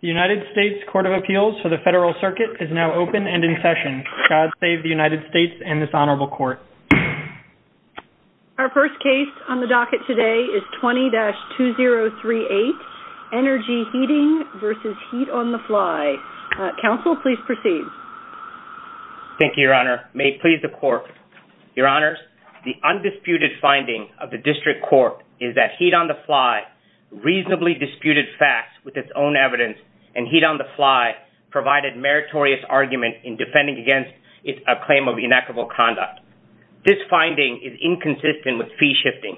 The United States Court of Appeals for the Federal Circuit is now open and in session. God save the United States and this Honorable Court. Our first case on the docket today is 20-2038 Energy Heating v. Heat On-The-Fly. Counsel, please proceed. Thank you, Your Honor. May it please the Court. Your Honors, the undisputed finding of the District Court is that Heat On-The-Fly reasonably disputed facts with its own evidence and Heat On-The-Fly provided meritorious argument in defending against a claim of inequitable conduct. This finding is inconsistent with fee shifting,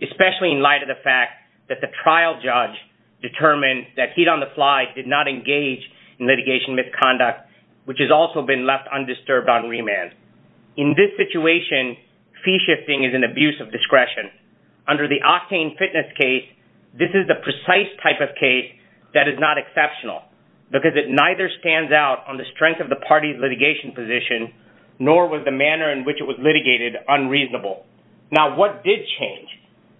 especially in light of the fact that the trial judge determined that Heat On-The-Fly did not engage in litigation misconduct, which has also been left undisturbed on remand. In this situation, fee shifting is an abuse of discretion. Under the Octane Fitness case, this is the precise type of case that is not exceptional because it neither stands out on the strength of the party's litigation position nor was the manner in which it was litigated unreasonable. Now, what did change?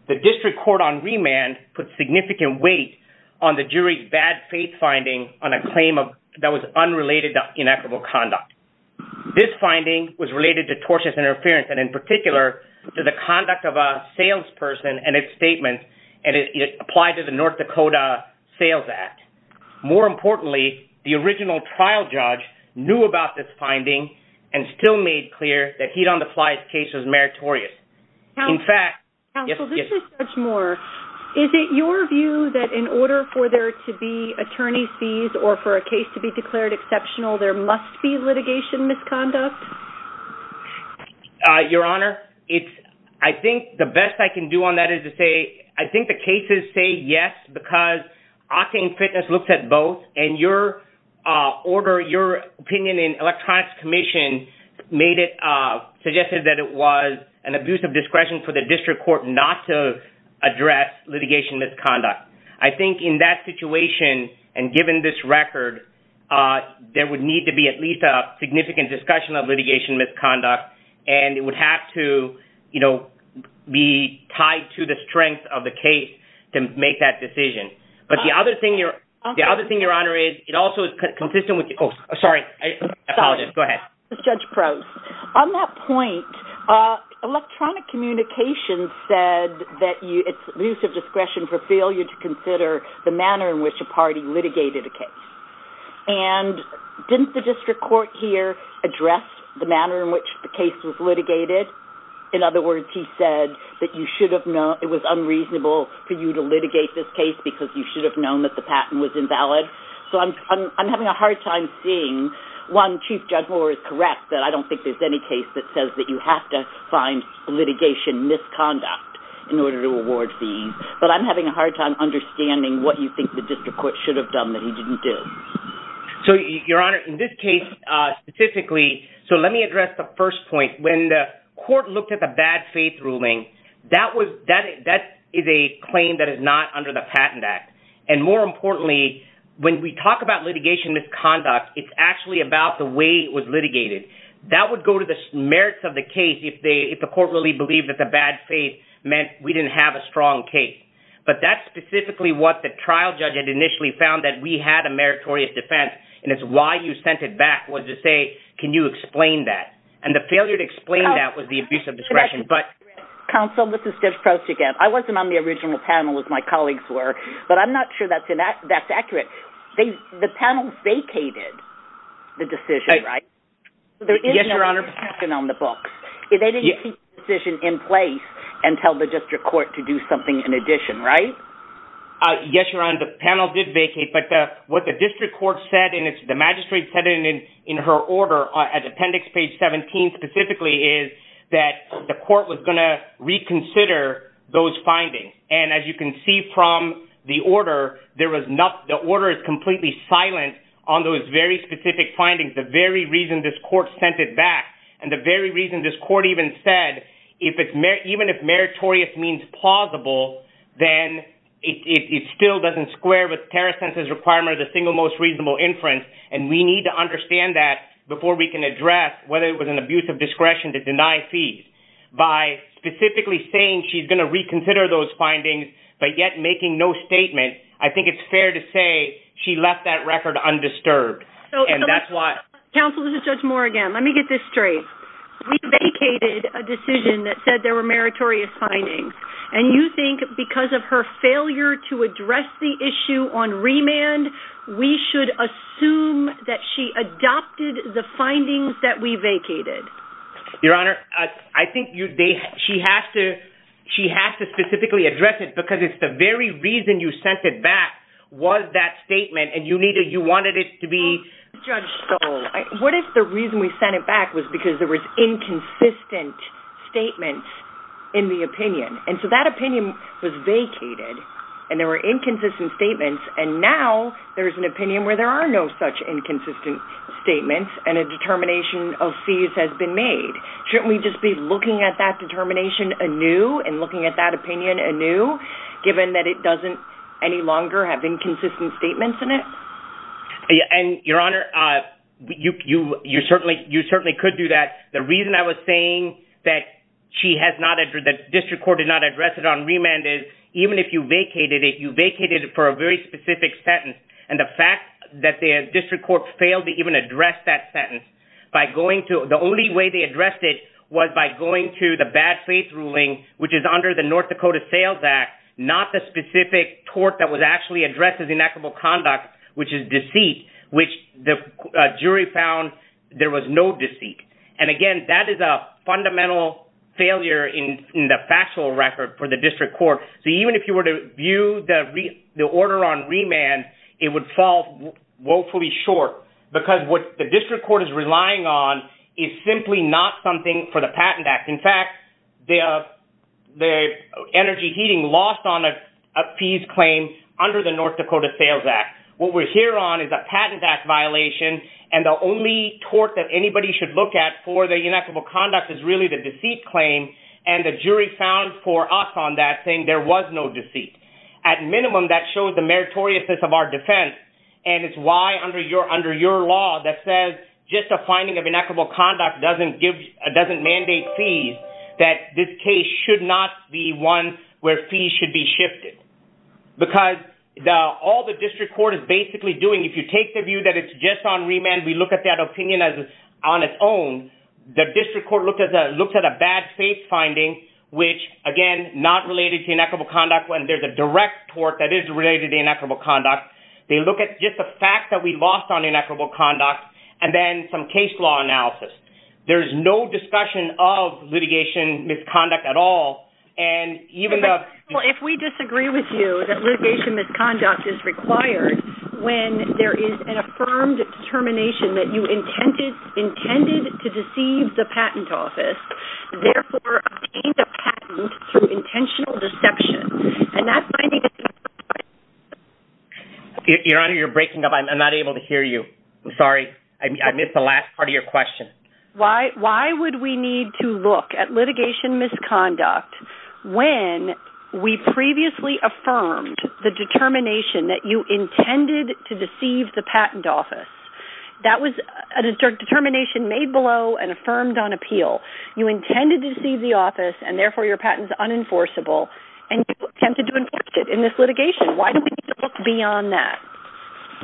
The District Court on remand put significant weight on the jury's bad faith finding on a claim that was unrelated to inequitable conduct. This finding was related to tortious interference and, in particular, to the conduct of a salesperson and its statement, and it applied to the North Dakota Sales Act. More importantly, the original trial judge knew about this finding and still made clear that Heat On-The-Fly's case was meritorious. Counsel, this is Judge Moore. Is it your view that in order for there to be attorney's fees or for a case to be declared exceptional, there must be litigation misconduct? Your Honor, I think the best I can do on that is to say I think the cases say yes because Octane Fitness looks at both, and your opinion in Electronics Commission made it suggested that it was an abuse of discretion for the District Court not to address litigation misconduct. I think in that situation and given this record, there would need to be at least a significant discussion of litigation misconduct, and it would have to be tied to the strength of the case to make that decision. But the other thing, Your Honor, is it also is consistent with – oh, sorry. I apologize. Go ahead. Sorry. This is Judge Probst. On that point, Electronic Communications said that it's an abuse of discretion for failure to consider the manner in which a party litigated a case. And didn't the District Court here address the manner in which the case was litigated? In other words, he said that it was unreasonable for you to litigate this case because you should have known that the patent was invalid. So I'm having a hard time seeing – one, Chief Judge Moore is correct that I don't think there's any case that says that you have to find litigation misconduct in order to award fees. But I'm having a hard time understanding what you think the District Court should have done that he didn't do. So, Your Honor, in this case specifically – so let me address the first point. When the court looked at the bad faith ruling, that is a claim that is not under the Patent Act. And more importantly, when we talk about litigation misconduct, it's actually about the way it was litigated. That would go to the merits of the case if the court really believed that the bad faith meant we didn't have a strong case. But that's specifically what the trial judge had initially found that we had a meritorious defense. And it's why you sent it back was to say, can you explain that? And the failure to explain that was the abuse of discretion. Counsel, this is Judge Prost again. I wasn't on the original panel as my colleagues were, but I'm not sure that's accurate. The panel vacated the decision, right? Yes, Your Honor. There is no discussion on the books. They didn't keep the decision in place and tell the District Court to do something in addition, right? Yes, Your Honor. The panel did vacate, but what the District Court said and the magistrate said in her order at Appendix Page 17 specifically is that the court was going to reconsider those findings. And as you can see from the order, the order is completely silent on those very specific findings, the very reason this court sent it back, and the very reason this court even said, even if meritorious means plausible, then it still doesn't square with Terrasense's requirement of the single most reasonable inference. And we need to understand that before we can address whether it was an abuse of discretion to deny fees. By specifically saying she's going to reconsider those findings, but yet making no statement, I think it's fair to say she left that record undisturbed. Counsel, this is Judge Moore again. Let me get this straight. We vacated a decision that said there were meritorious findings, and you think because of her failure to address the issue on remand, we should assume that she adopted the findings that we vacated? Your Honor, I think she has to specifically address it because it's the very reason you sent it back was that statement, and you wanted it to be… What if the reason we sent it back was because there was inconsistent statements in the opinion? And so that opinion was vacated, and there were inconsistent statements, and now there's an opinion where there are no such inconsistent statements, and a determination of fees has been made. Shouldn't we just be looking at that determination anew and looking at that opinion anew, given that it doesn't any longer have inconsistent statements in it? Your Honor, you certainly could do that. The reason I was saying that the district court did not address it on remand is even if you vacated it, you vacated it for a very specific sentence. And the fact that the district court failed to even address that sentence, the only way they addressed it was by going to the bad faith ruling, which is under the North Dakota Sales Act, not the specific tort that was actually addressed as inactable conduct, which is deceit, which the jury found there was no deceit. And again, that is a fundamental failure in the factual record for the district court. So even if you were to view the order on remand, it would fall woefully short, because what the district court is relying on is simply not something for the Patent Act. In fact, the energy heating lost on a fees claim under the North Dakota Sales Act. What we're here on is a Patent Act violation, and the only tort that anybody should look at for the inactable conduct is really the deceit claim, and the jury found for us on that saying there was no deceit. At minimum, that showed the meritoriousness of our defense. And it's why under your law that says just a finding of inactable conduct doesn't mandate fees, that this case should not be one where fees should be shifted. Because all the district court is basically doing, if you take the view that it's just on remand, we look at that opinion on its own, the district court looked at a bad faith finding, which again, not related to inactable conduct when there's a direct tort that is related to inactable conduct. They look at just the fact that we lost on inactable conduct, and then some case law analysis. There's no discussion of litigation misconduct at all, and even though... Your Honor, you're breaking up. I'm not able to hear you. I'm sorry. I missed the last part of your question. Why would we need to look at litigation misconduct when we previously affirmed the determination that you intended to deceive the patent office? That was a determination made below and affirmed on appeal. You intended to deceive the office, and therefore your patent is unenforceable, and you attempted to enforce it in this litigation. Why do we need to look beyond that?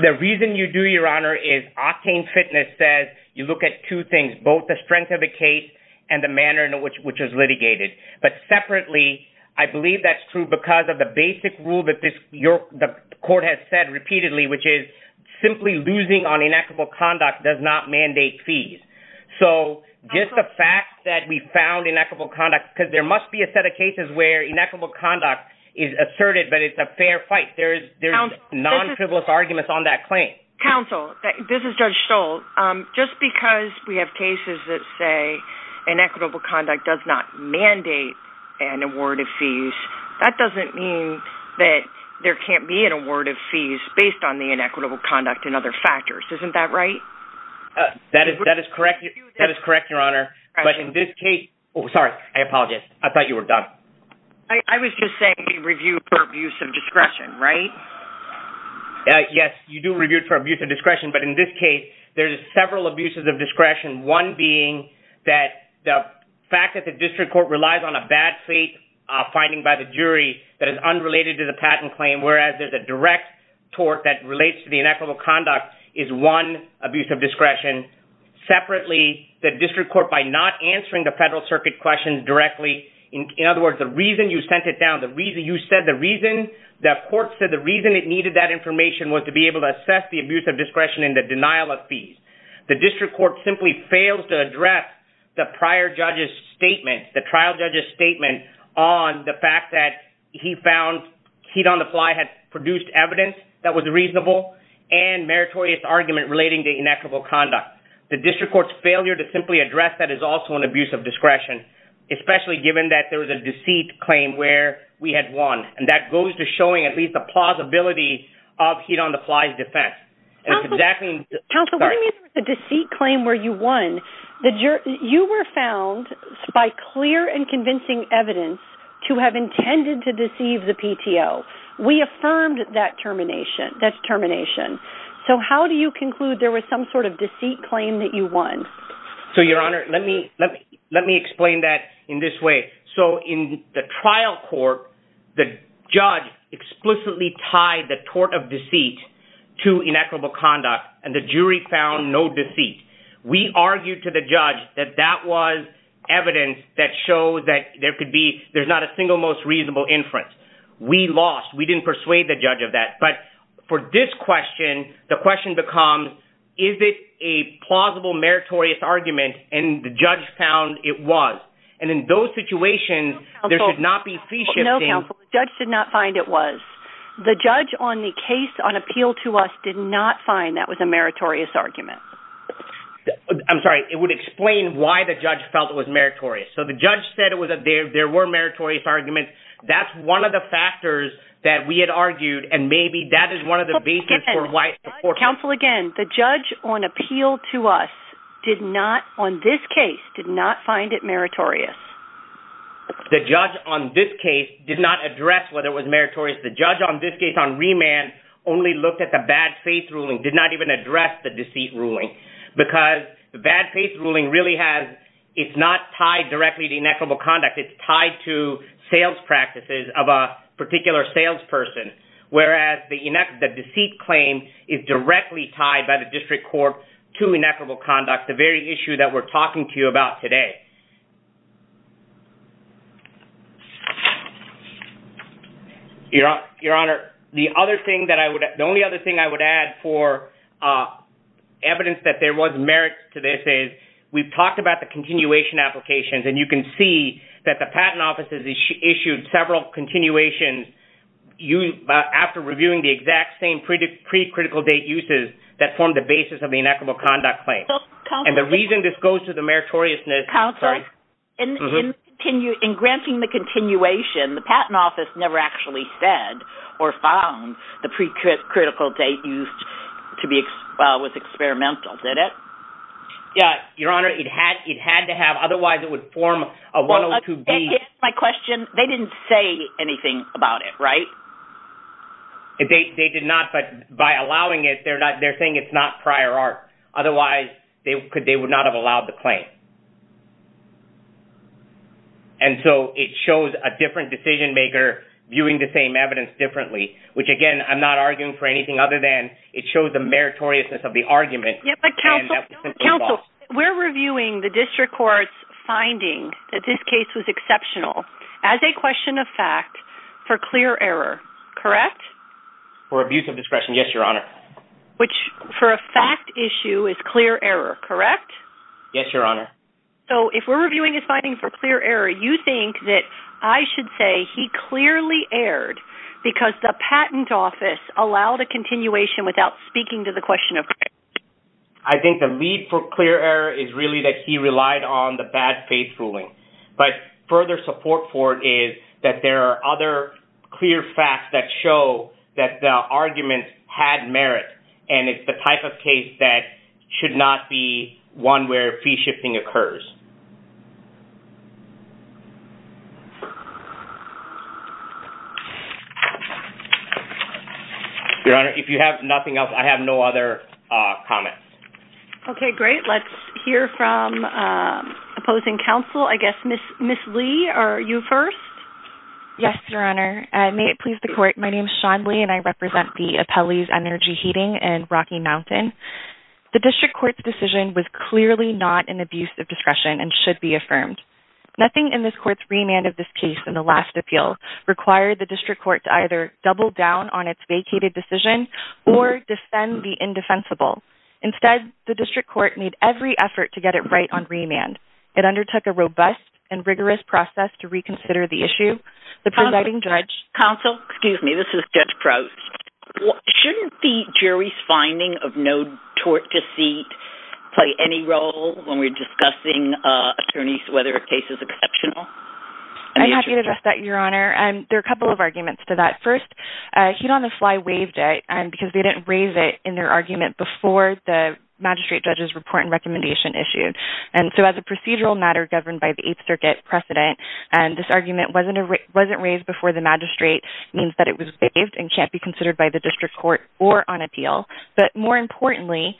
The reason you do, Your Honor, is Octane Fitness says you look at two things, both the strength of the case and the manner in which it was litigated. But separately, I believe that's true because of the basic rule that the court has said repeatedly, which is simply losing on inactable conduct does not mandate fees. So just the fact that we found inequitable conduct, because there must be a set of cases where inequitable conduct is asserted, but it's a fair fight. There's non-frivolous arguments on that claim. Counsel, this is Judge Stoll. Just because we have cases that say inequitable conduct does not mandate an award of fees, that doesn't mean that there can't be an award of fees based on the inequitable conduct and other factors. Isn't that right? That is correct, Your Honor. But in this case – oh, sorry. I apologize. I thought you were done. I was just saying review for abuse of discretion, right? Yes, you do review for abuse of discretion. But in this case, there's several abuses of discretion, one being that the fact that the district court relies on a bad fate finding by the jury that is unrelated to the patent claim, whereas there's a direct tort that relates to the inequitable conduct is one abuse of discretion. Separately, the district court, by not answering the Federal Circuit questions directly – in other words, the reason you sent it down, you said the reason – the court said the reason it needed that information was to be able to assess the abuse of discretion and the denial of fees. The district court simply failed to address the prior judge's statement, the trial judge's statement on the fact that he found Heat on the Fly had produced evidence that was reasonable and meritorious argument relating to inequitable conduct. The district court's failure to simply address that is also an abuse of discretion, especially given that there was a deceit claim where we had won, and that goes to showing at least a plausibility of Heat on the Fly's defense. Counsel, what do you mean there was a deceit claim where you won? You were found by clear and convincing evidence to have intended to deceive the PTO. We affirmed that termination. So how do you conclude there was some sort of deceit claim that you won? So, Your Honor, let me explain that in this way. So, in the trial court, the judge explicitly tied the tort of deceit to inequitable conduct, and the jury found no deceit. We argued to the judge that that was evidence that showed that there could be, there's not a single most reasonable inference. We lost. We didn't persuade the judge of that. But for this question, the question becomes, is it a plausible meritorious argument, and the judge found it was. And in those situations, there should not be fee shifting. Counsel, the judge did not find it was. The judge on the case on appeal to us did not find that was a meritorious argument. I'm sorry, it would explain why the judge felt it was meritorious. So the judge said it was a, there were meritorious arguments. That's one of the factors that we had argued, and maybe that is one of the basis for why. Counsel, again, the judge on appeal to us did not, on this case, did not find it meritorious. The judge on this case did not address whether it was meritorious. The judge on this case on remand only looked at the bad faith ruling, did not even address the deceit ruling, because the bad faith ruling really has, it's not tied directly to inequitable conduct. It's tied to sales practices of a particular salesperson, whereas the deceit claim is directly tied by the district court to inequitable conduct, the very issue that we're talking to you about today. Your Honor, the other thing that I would, the only other thing I would add for evidence that there was merit to this is we've talked about the continuation applications, and you can see that the patent offices issued several continuations after reviewing the exact same pre-critical date uses that formed the basis of the inequitable conduct claim. And the reason this goes to the meritoriousness… Counsel, in granting the continuation, the patent office never actually said or found the pre-critical date used to be, was experimental, did it? Your Honor, it had to have, otherwise it would form a 102B… My question, they didn't say anything about it, right? They did not, but by allowing it, they're saying it's not prior art, otherwise they would not have allowed the claim. And so it shows a different decision maker viewing the same evidence differently, which again, I'm not arguing for anything other than it shows the meritoriousness of the argument… Counsel, we're reviewing the district court's finding that this case was exceptional as a question of fact for clear error, correct? For abuse of discretion, yes, Your Honor. Which for a fact issue is clear error, correct? Yes, Your Honor. So if we're reviewing his finding for clear error, you think that I should say he clearly erred because the patent office allowed a continuation without speaking to the question of… I think the lead for clear error is really that he relied on the bad faith ruling. But further support for it is that there are other clear facts that show that the argument had merit, and it's the type of case that should not be one where fee shifting occurs. Your Honor, if you have nothing else, I have no other comments. Okay, great. Let's hear from opposing counsel, I guess, Ms. Lee, are you first? Yes, Your Honor. May it please the court, my name is Shawn Lee, and I represent the Appellees Energy Heating in Rocky Mountain. The district court's decision was clearly not an abuse of discretion. Nothing in this court's remand of this case in the last appeal required the district court to either double down on its vacated decision or defend the indefensible. Instead, the district court made every effort to get it right on remand. It undertook a robust and rigorous process to reconsider the issue. Counsel, excuse me, this is Judge Proust. Shouldn't the jury's finding of no tort deceit play any role when we're discussing attorneys whether a case is exceptional? I'm happy to address that, Your Honor. There are a couple of arguments to that. First, Heat on the Fly waived it because they didn't raise it in their argument before the magistrate judge's report and recommendation issue. As a procedural matter governed by the Eighth Circuit precedent, this argument wasn't raised before the magistrate means that it was waived and can't be considered by the district court or on appeal. More importantly,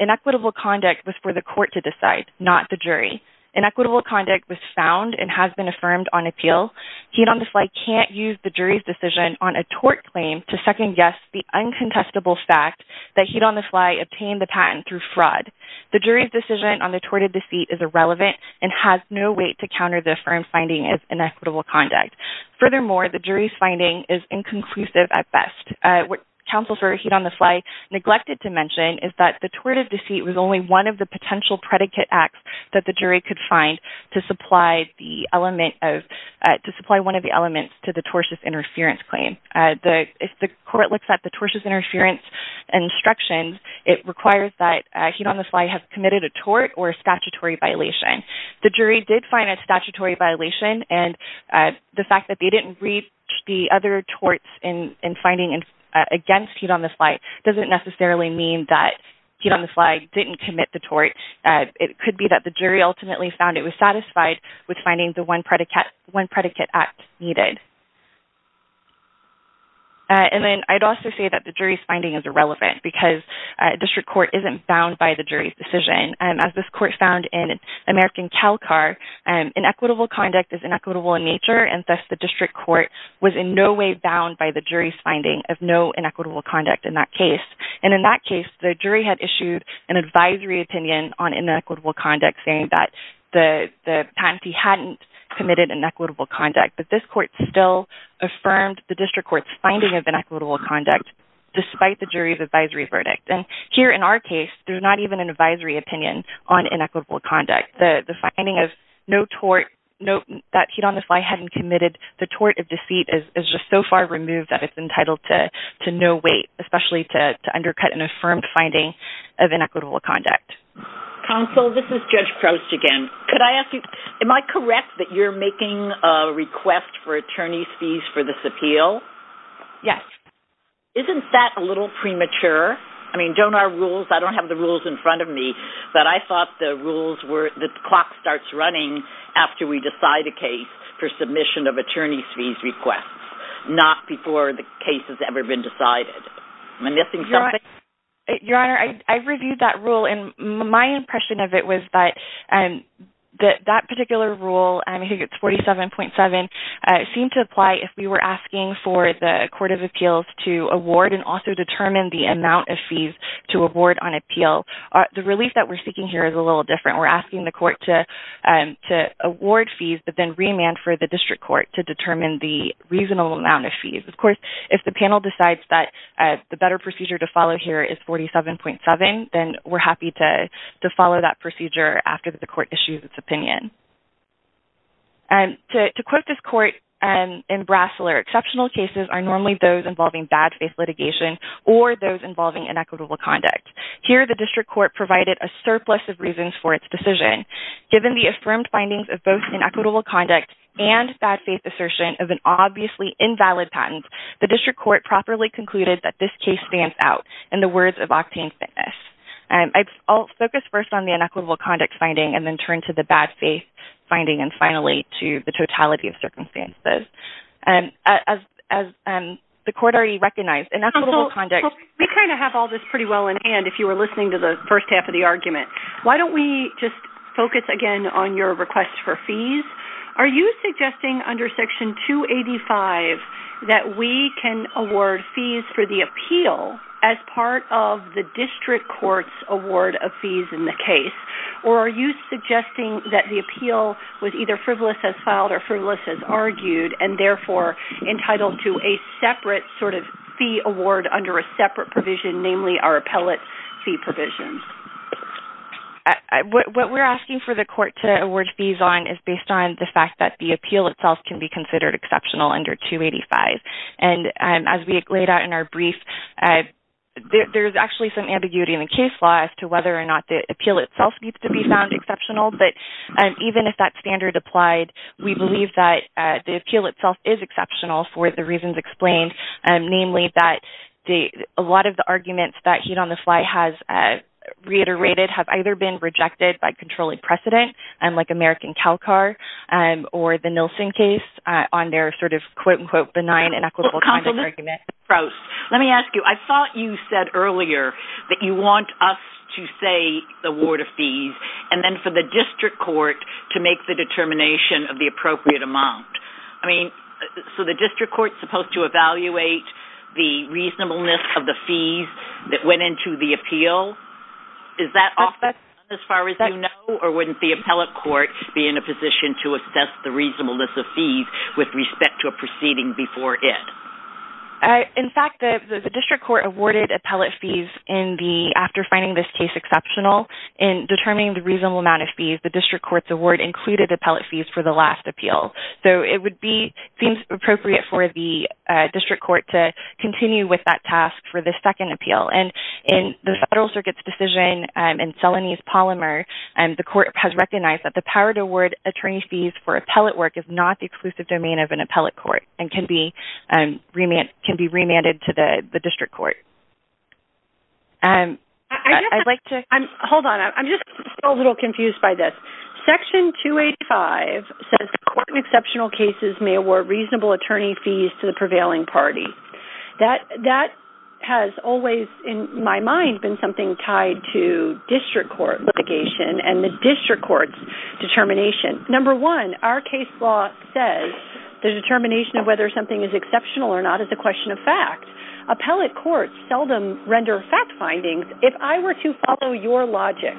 inequitable conduct was for the court to decide, not the jury. Inequitable conduct was found and has been affirmed on appeal. Heat on the Fly can't use the jury's decision on a tort claim to second-guess the uncontestable fact that Heat on the Fly obtained the patent through fraud. The jury's decision on the tort of deceit is irrelevant and has no weight to counter the affirmed finding of inequitable conduct. Furthermore, the jury's finding is inconclusive at best. What Counsel for Heat on the Fly neglected to mention is that the tort of deceit was only one of the potential predicate acts that the jury could find to supply one of the elements to the tortious interference claim. If the court looks at the tortious interference instructions, it requires that Heat on the Fly have committed a tort or a statutory violation. The jury did find a statutory violation and the fact that they didn't reach the other torts in finding against Heat on the Fly doesn't necessarily mean that Heat on the Fly didn't commit the tort. It could be that the jury ultimately found it was satisfied with finding the one predicate act needed. I'd also say that the jury's finding is irrelevant because district court isn't bound by the jury's decision. As this court found in American CalCAR, inequitable conduct is inequitable in nature and thus the district court was in no way bound by the jury's finding of no inequitable conduct in that case. In that case, the jury had issued an advisory opinion on inequitable conduct saying that the patentee hadn't committed inequitable conduct. But this court still affirmed the district court's finding of inequitable conduct despite the jury's advisory verdict. Here in our case, there's not even an advisory opinion on inequitable conduct. The finding that Heat on the Fly hadn't committed the tort of deceit is just so far removed that it's entitled to no weight, especially to undercut an affirmed finding of inequitable conduct. Counsel, this is Judge Prost again. Am I correct that you're making a request for attorney's fees for this appeal? Yes. Isn't that a little premature? I don't have the rules in front of me, but I thought the clock starts running after we decide a case for submission of attorney's fees requests, not before the case has ever been decided. Am I missing something? Your Honor, I reviewed that rule, and my impression of it was that that particular rule, I think it's 47.7, seemed to apply if we were asking for the court of appeals to award and also determine the amount of fees to award on appeal. The relief that we're seeking here is a little different. We're asking the court to award fees, but then remand for the district court to determine the reasonable amount of fees. Of course, if the panel decides that the better procedure to follow here is 47.7, then we're happy to follow that procedure after the court issues its opinion. To quote this court in Brasler, exceptional cases are normally those involving bad faith litigation or those involving inequitable conduct. Here, the district court provided a surplus of reasons for its decision. Given the affirmed findings of both inequitable conduct and bad faith assertion of an obviously invalid patent, the district court properly concluded that this case stands out in the words of Octane Fitness. I'll focus first on the inequitable conduct finding and then turn to the bad faith finding and finally to the totality of circumstances. The court already recognized inequitable conduct. We kind of have all this pretty well in hand if you were listening to the first half of the argument. Why don't we just focus again on your request for fees? Are you suggesting under Section 285 that we can award fees for the appeal as part of the district court's award of fees in the case? Or are you suggesting that the appeal was either frivolous as filed or frivolous as argued and therefore entitled to a separate fee award under a separate provision, namely our appellate fee provision? What we're asking for the court to award fees on is based on the fact that the appeal itself can be considered exceptional under 285. As we laid out in our brief, there's actually some ambiguity in the case law as to whether or not the appeal itself needs to be found exceptional. Even if that standard applied, we believe that the appeal itself is exceptional for the reasons explained, namely that a lot of the arguments that Heat on the Fly has reiterated have either been rejected by controlling precedent, like American Calcar, or the Nielsen case on their sort of quote-unquote benign and equitable kind of argument. Let me ask you, I thought you said earlier that you want us to say the award of fees and then for the district court to make the determination of the appropriate amount. I mean, so the district court's supposed to evaluate the reasonableness of the fees that went into the appeal? Is that off the ground as far as you know, or wouldn't the appellate court be in a position to assess the reasonableness of fees with respect to a proceeding before it? In fact, the district court awarded appellate fees after finding this case exceptional. In determining the reasonable amount of fees, the district court's award included appellate fees for the last appeal. So it would be, it seems appropriate for the district court to continue with that task for the second appeal. And in the Federal Circuit's decision in Celanese-Polymer, the court has recognized that the power to award attorney fees for appellate work is not the exclusive domain of an appellate court and can be remanded to the district court. Hold on, I'm just a little confused by this. Section 285 says the court in exceptional cases may award reasonable attorney fees to the prevailing party. That has always, in my mind, been something tied to district court litigation and the district court's determination. Number one, our case law says the determination of whether something is exceptional or not is a question of fact. Appellate courts seldom render fact findings. If I were to follow your logic,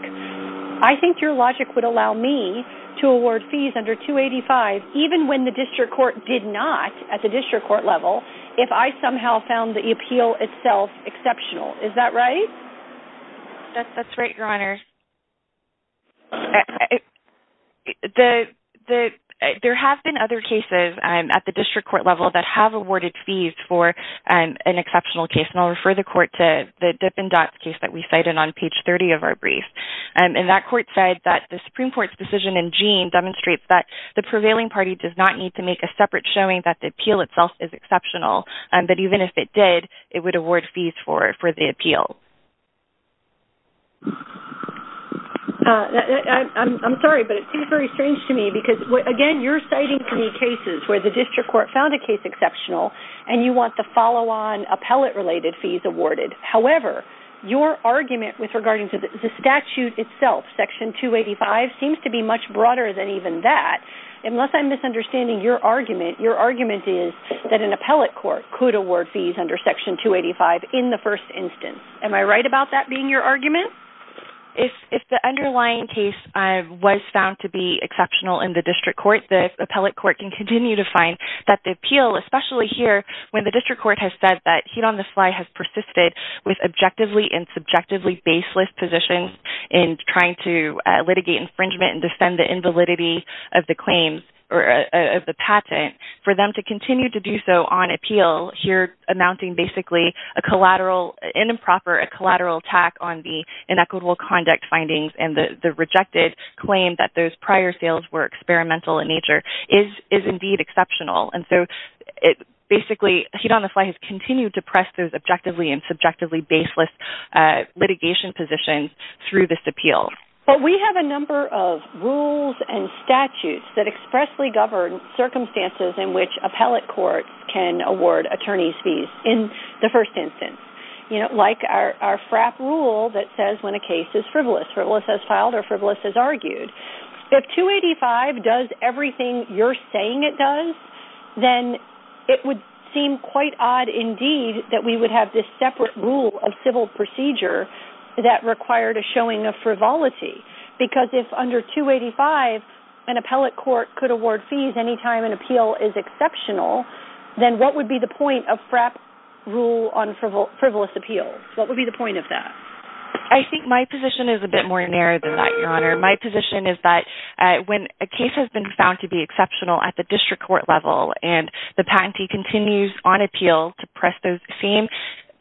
I think your logic would allow me to award fees under 285, even when the district court did not at the district court level, if I somehow found the appeal itself exceptional. Is that right? There have been other cases at the district court level that have awarded fees for an exceptional case, and I'll refer the court to the Dippin' Dots case that we cited on page 30 of our brief. And that court said that the Supreme Court's decision in Jean demonstrates that the prevailing party does not need to make a separate showing that the appeal itself is exceptional, but even if it did, it would award fees for the appeal. I'm sorry, but it seems very strange to me because, again, you're citing three cases where the district court found a case exceptional, and you want the follow-on appellate-related fees awarded. However, your argument regarding the statute itself, Section 285, seems to be much broader than even that. Unless I'm misunderstanding your argument, your argument is that an appellate court could award fees under Section 285 in the first instance. Am I right about that being your argument? If the underlying case was found to be exceptional in the district court, the appellate court can continue to find that the appeal, especially here when the district court has said that heat on the fly has persisted with objectively and subjectively baseless positions in trying to litigate infringement and defend the invalidity of the patent, for them to continue to do so on appeal, here amounting basically to an improper collateral attack on the inequitable conduct findings and the rejected claim that those prior sales were experimental in nature, is indeed exceptional. Basically, heat on the fly has continued to press those objectively and subjectively baseless litigation positions through this appeal. But we have a number of rules and statutes that expressly govern circumstances in which appellate courts can award attorney's fees in the first instance. Like our FRAP rule that says when a case is frivolous, frivolous as filed or frivolous as argued. If 285 does everything you're saying it does, then it would seem quite odd indeed that we would have this separate rule of civil procedure that required a showing of frivolity. Because if under 285 an appellate court could award fees any time an appeal is exceptional, then what would be the point of FRAP rule on frivolous appeal? What would be the point of that? I think my position is a bit more narrow than that, Your Honor. My position is that when a case has been found to be exceptional at the district court level, and the patentee continues on appeal to press those same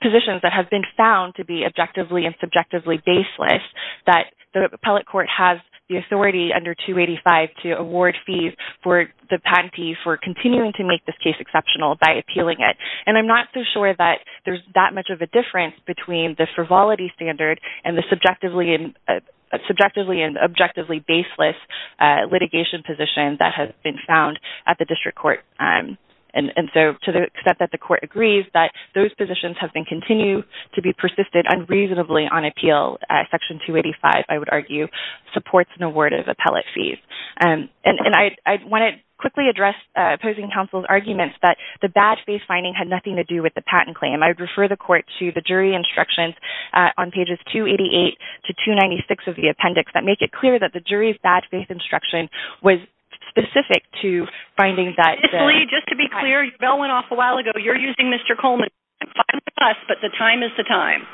positions that have been found to be objectively and subjectively baseless, that the appellate court has the authority under 285 to award fees for the patentee for continuing to make this case exceptional by appealing it. And I'm not so sure that there's that much of a difference between the frivolity standard and the subjectively and objectively baseless litigation position that has been found at the district court. And so to the extent that the court agrees that those positions have been continued to be persisted unreasonably on appeal, section 285, I would argue, supports an award of appellate fees. And I want to quickly address opposing counsel's arguments that the bad faith finding had nothing to do with the patent claim. I would refer the court to the jury instructions on pages 288 to 296 of the appendix that make it clear that the jury's bad faith instruction was specific to finding that… Ms. Lee, just to be clear, your bell went off a while ago. You're using Mr. Coleman. I'm fine with the fuss, but the time is the time.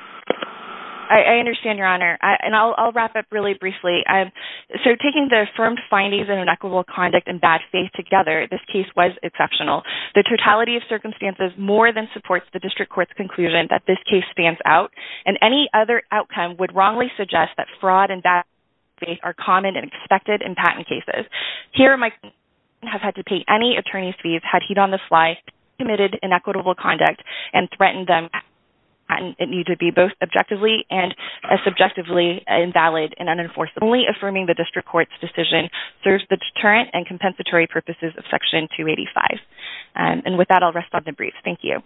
I understand, Your Honor. And I'll wrap up really briefly. So taking the affirmed findings in inequitable conduct and bad faith together, this case was exceptional. The totality of circumstances more than supports the district court's conclusion that this case stands out, and any other outcome would wrongly suggest that fraud and bad faith are common and expected in patent cases. Here, my client has had to pay any attorney's fees, had heat on the fly, committed inequitable conduct, and threatened them that it needed to be both objectively and subjectively invalid and unenforceable. Only affirming the district court's decision serves the deterrent and compensatory purposes of Section 285. And with that, I'll rest on the brief. Thank you.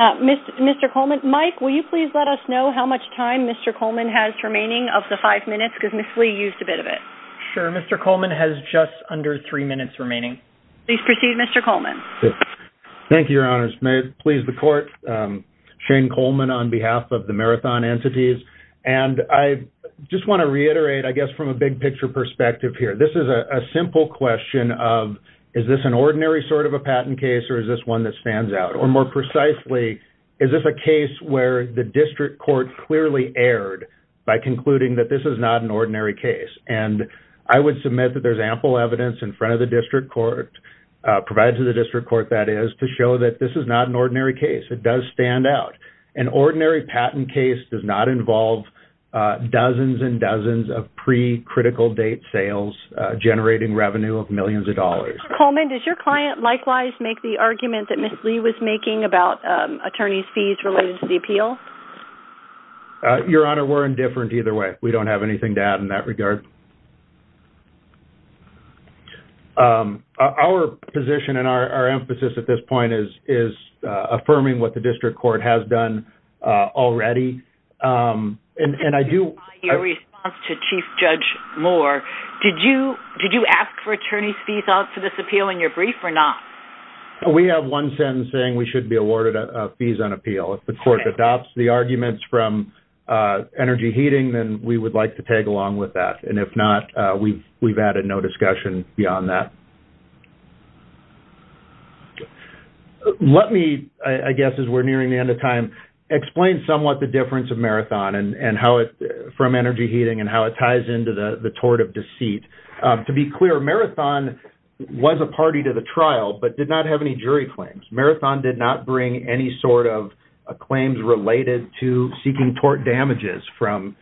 Mr. Coleman, Mike, will you please let us know how much time Mr. Coleman has remaining of the five minutes, because Ms. Lee used a bit of it. Sure. Mr. Coleman has just under three minutes remaining. Please proceed, Mr. Coleman. Thank you, Your Honors. May it please the court? Shane Coleman on behalf of the Marathon Entities. And I just want to reiterate, I guess, from a big picture perspective here. This is a simple question of, is this an ordinary sort of a patent case, or is this one that stands out? Or more precisely, is this a case where the district court clearly erred by concluding that this is not an ordinary case? And I would submit that there's ample evidence in front of the district court, provided to the district court that is, to show that this is not an ordinary case. It does stand out. An ordinary patent case does not involve dozens and dozens of pre-critical date sales generating revenue of millions of dollars. Mr. Coleman, does your client likewise make the argument that Ms. Lee was making about attorney's fees related to the appeal? Your Honor, we're indifferent either way. We don't have anything to add in that regard. Our position and our emphasis at this point is affirming what the district court has done already. In response to Chief Judge Moore, did you ask for attorney's fees to this appeal in your brief, or not? We have one sentence saying we should be awarded fees on appeal. If the court adopts the arguments from Energy Heating, then we would like to tag along with that. If not, we've added no discussion beyond that. Let me, I guess as we're nearing the end of time, explain somewhat the difference of Marathon from Energy Heating and how it ties into the tort of deceit. To be clear, Marathon was a party to the trial, but did not have any jury claims. Marathon did not bring any sort of claims related to seeking tort damages from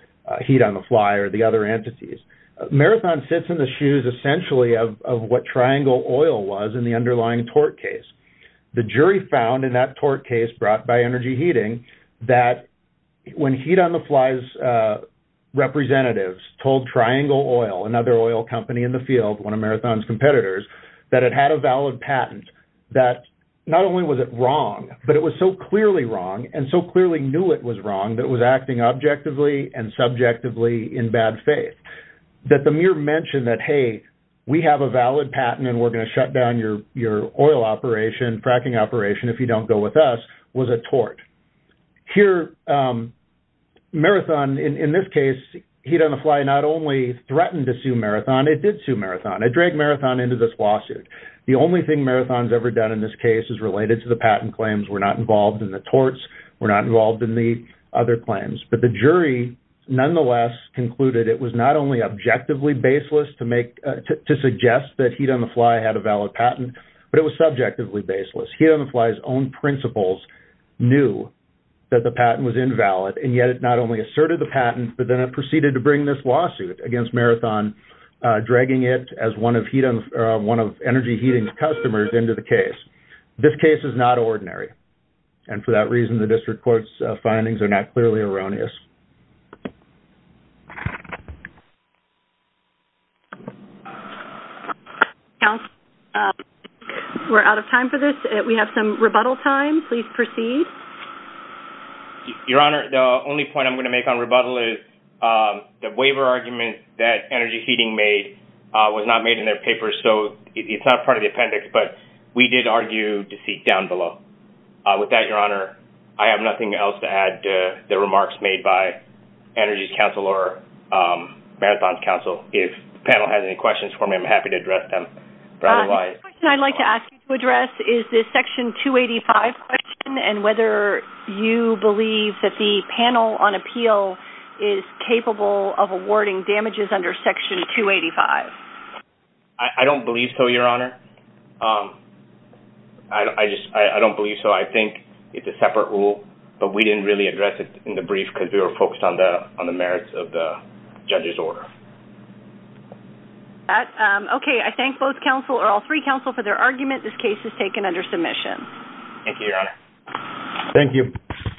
Heat on the Fly or the other entities. Marathon sits in the shoes essentially of what Triangle Oil was in the underlying tort case. The jury found in that tort case brought by Energy Heating that when Heat on the Fly's representatives told Triangle Oil, another oil company in the field, one of Marathon's competitors, that it had a valid patent, that not only was it wrong, but it was so clearly wrong and so clearly knew it was wrong that it was acting objectively and subjectively in bad faith. That the mere mention that, hey, we have a valid patent and we're going to shut down your oil operation, fracking operation, if you don't go with us, was a tort. Here, Marathon, in this case, Heat on the Fly not only threatened to sue Marathon, it did sue Marathon. It dragged Marathon into this lawsuit. The only thing Marathon's ever done in this case is related to the patent claims. We're not involved in the torts. We're not involved in the other claims. But the jury nonetheless concluded it was not only objectively baseless to suggest that Heat on the Fly had a valid patent, but it was subjectively baseless. Heat on the Fly's own principles knew that the patent was invalid. And yet it not only asserted the patent, but then it proceeded to bring this lawsuit against Marathon, dragging it as one of Energy Heating's customers into the case. This case is not ordinary. And for that reason, the district court's findings are not clearly erroneous. Counsel, we're out of time for this. We have some rebuttal time. Please proceed. Your Honor, the only point I'm going to make on rebuttal is the waiver argument that Energy Heating made was not made in their papers. So it's not part of the appendix. But we did argue deceit down below. With that, Your Honor, I have nothing else to add to the remarks made by Energy's counsel or Marathon's counsel. If the panel has any questions for me, I'm happy to address them. The question I'd like to ask you to address is the Section 285 question and whether you believe that the panel on appeal is capable of awarding damages under Section 285. I don't believe so, Your Honor. I don't believe so. I think it's a separate rule. But we didn't really address it in the brief because we were focused on the merits of the judge's order. Okay. I thank all three counsel for their argument. This case is taken under submission. Thank you, Your Honor. Thank you.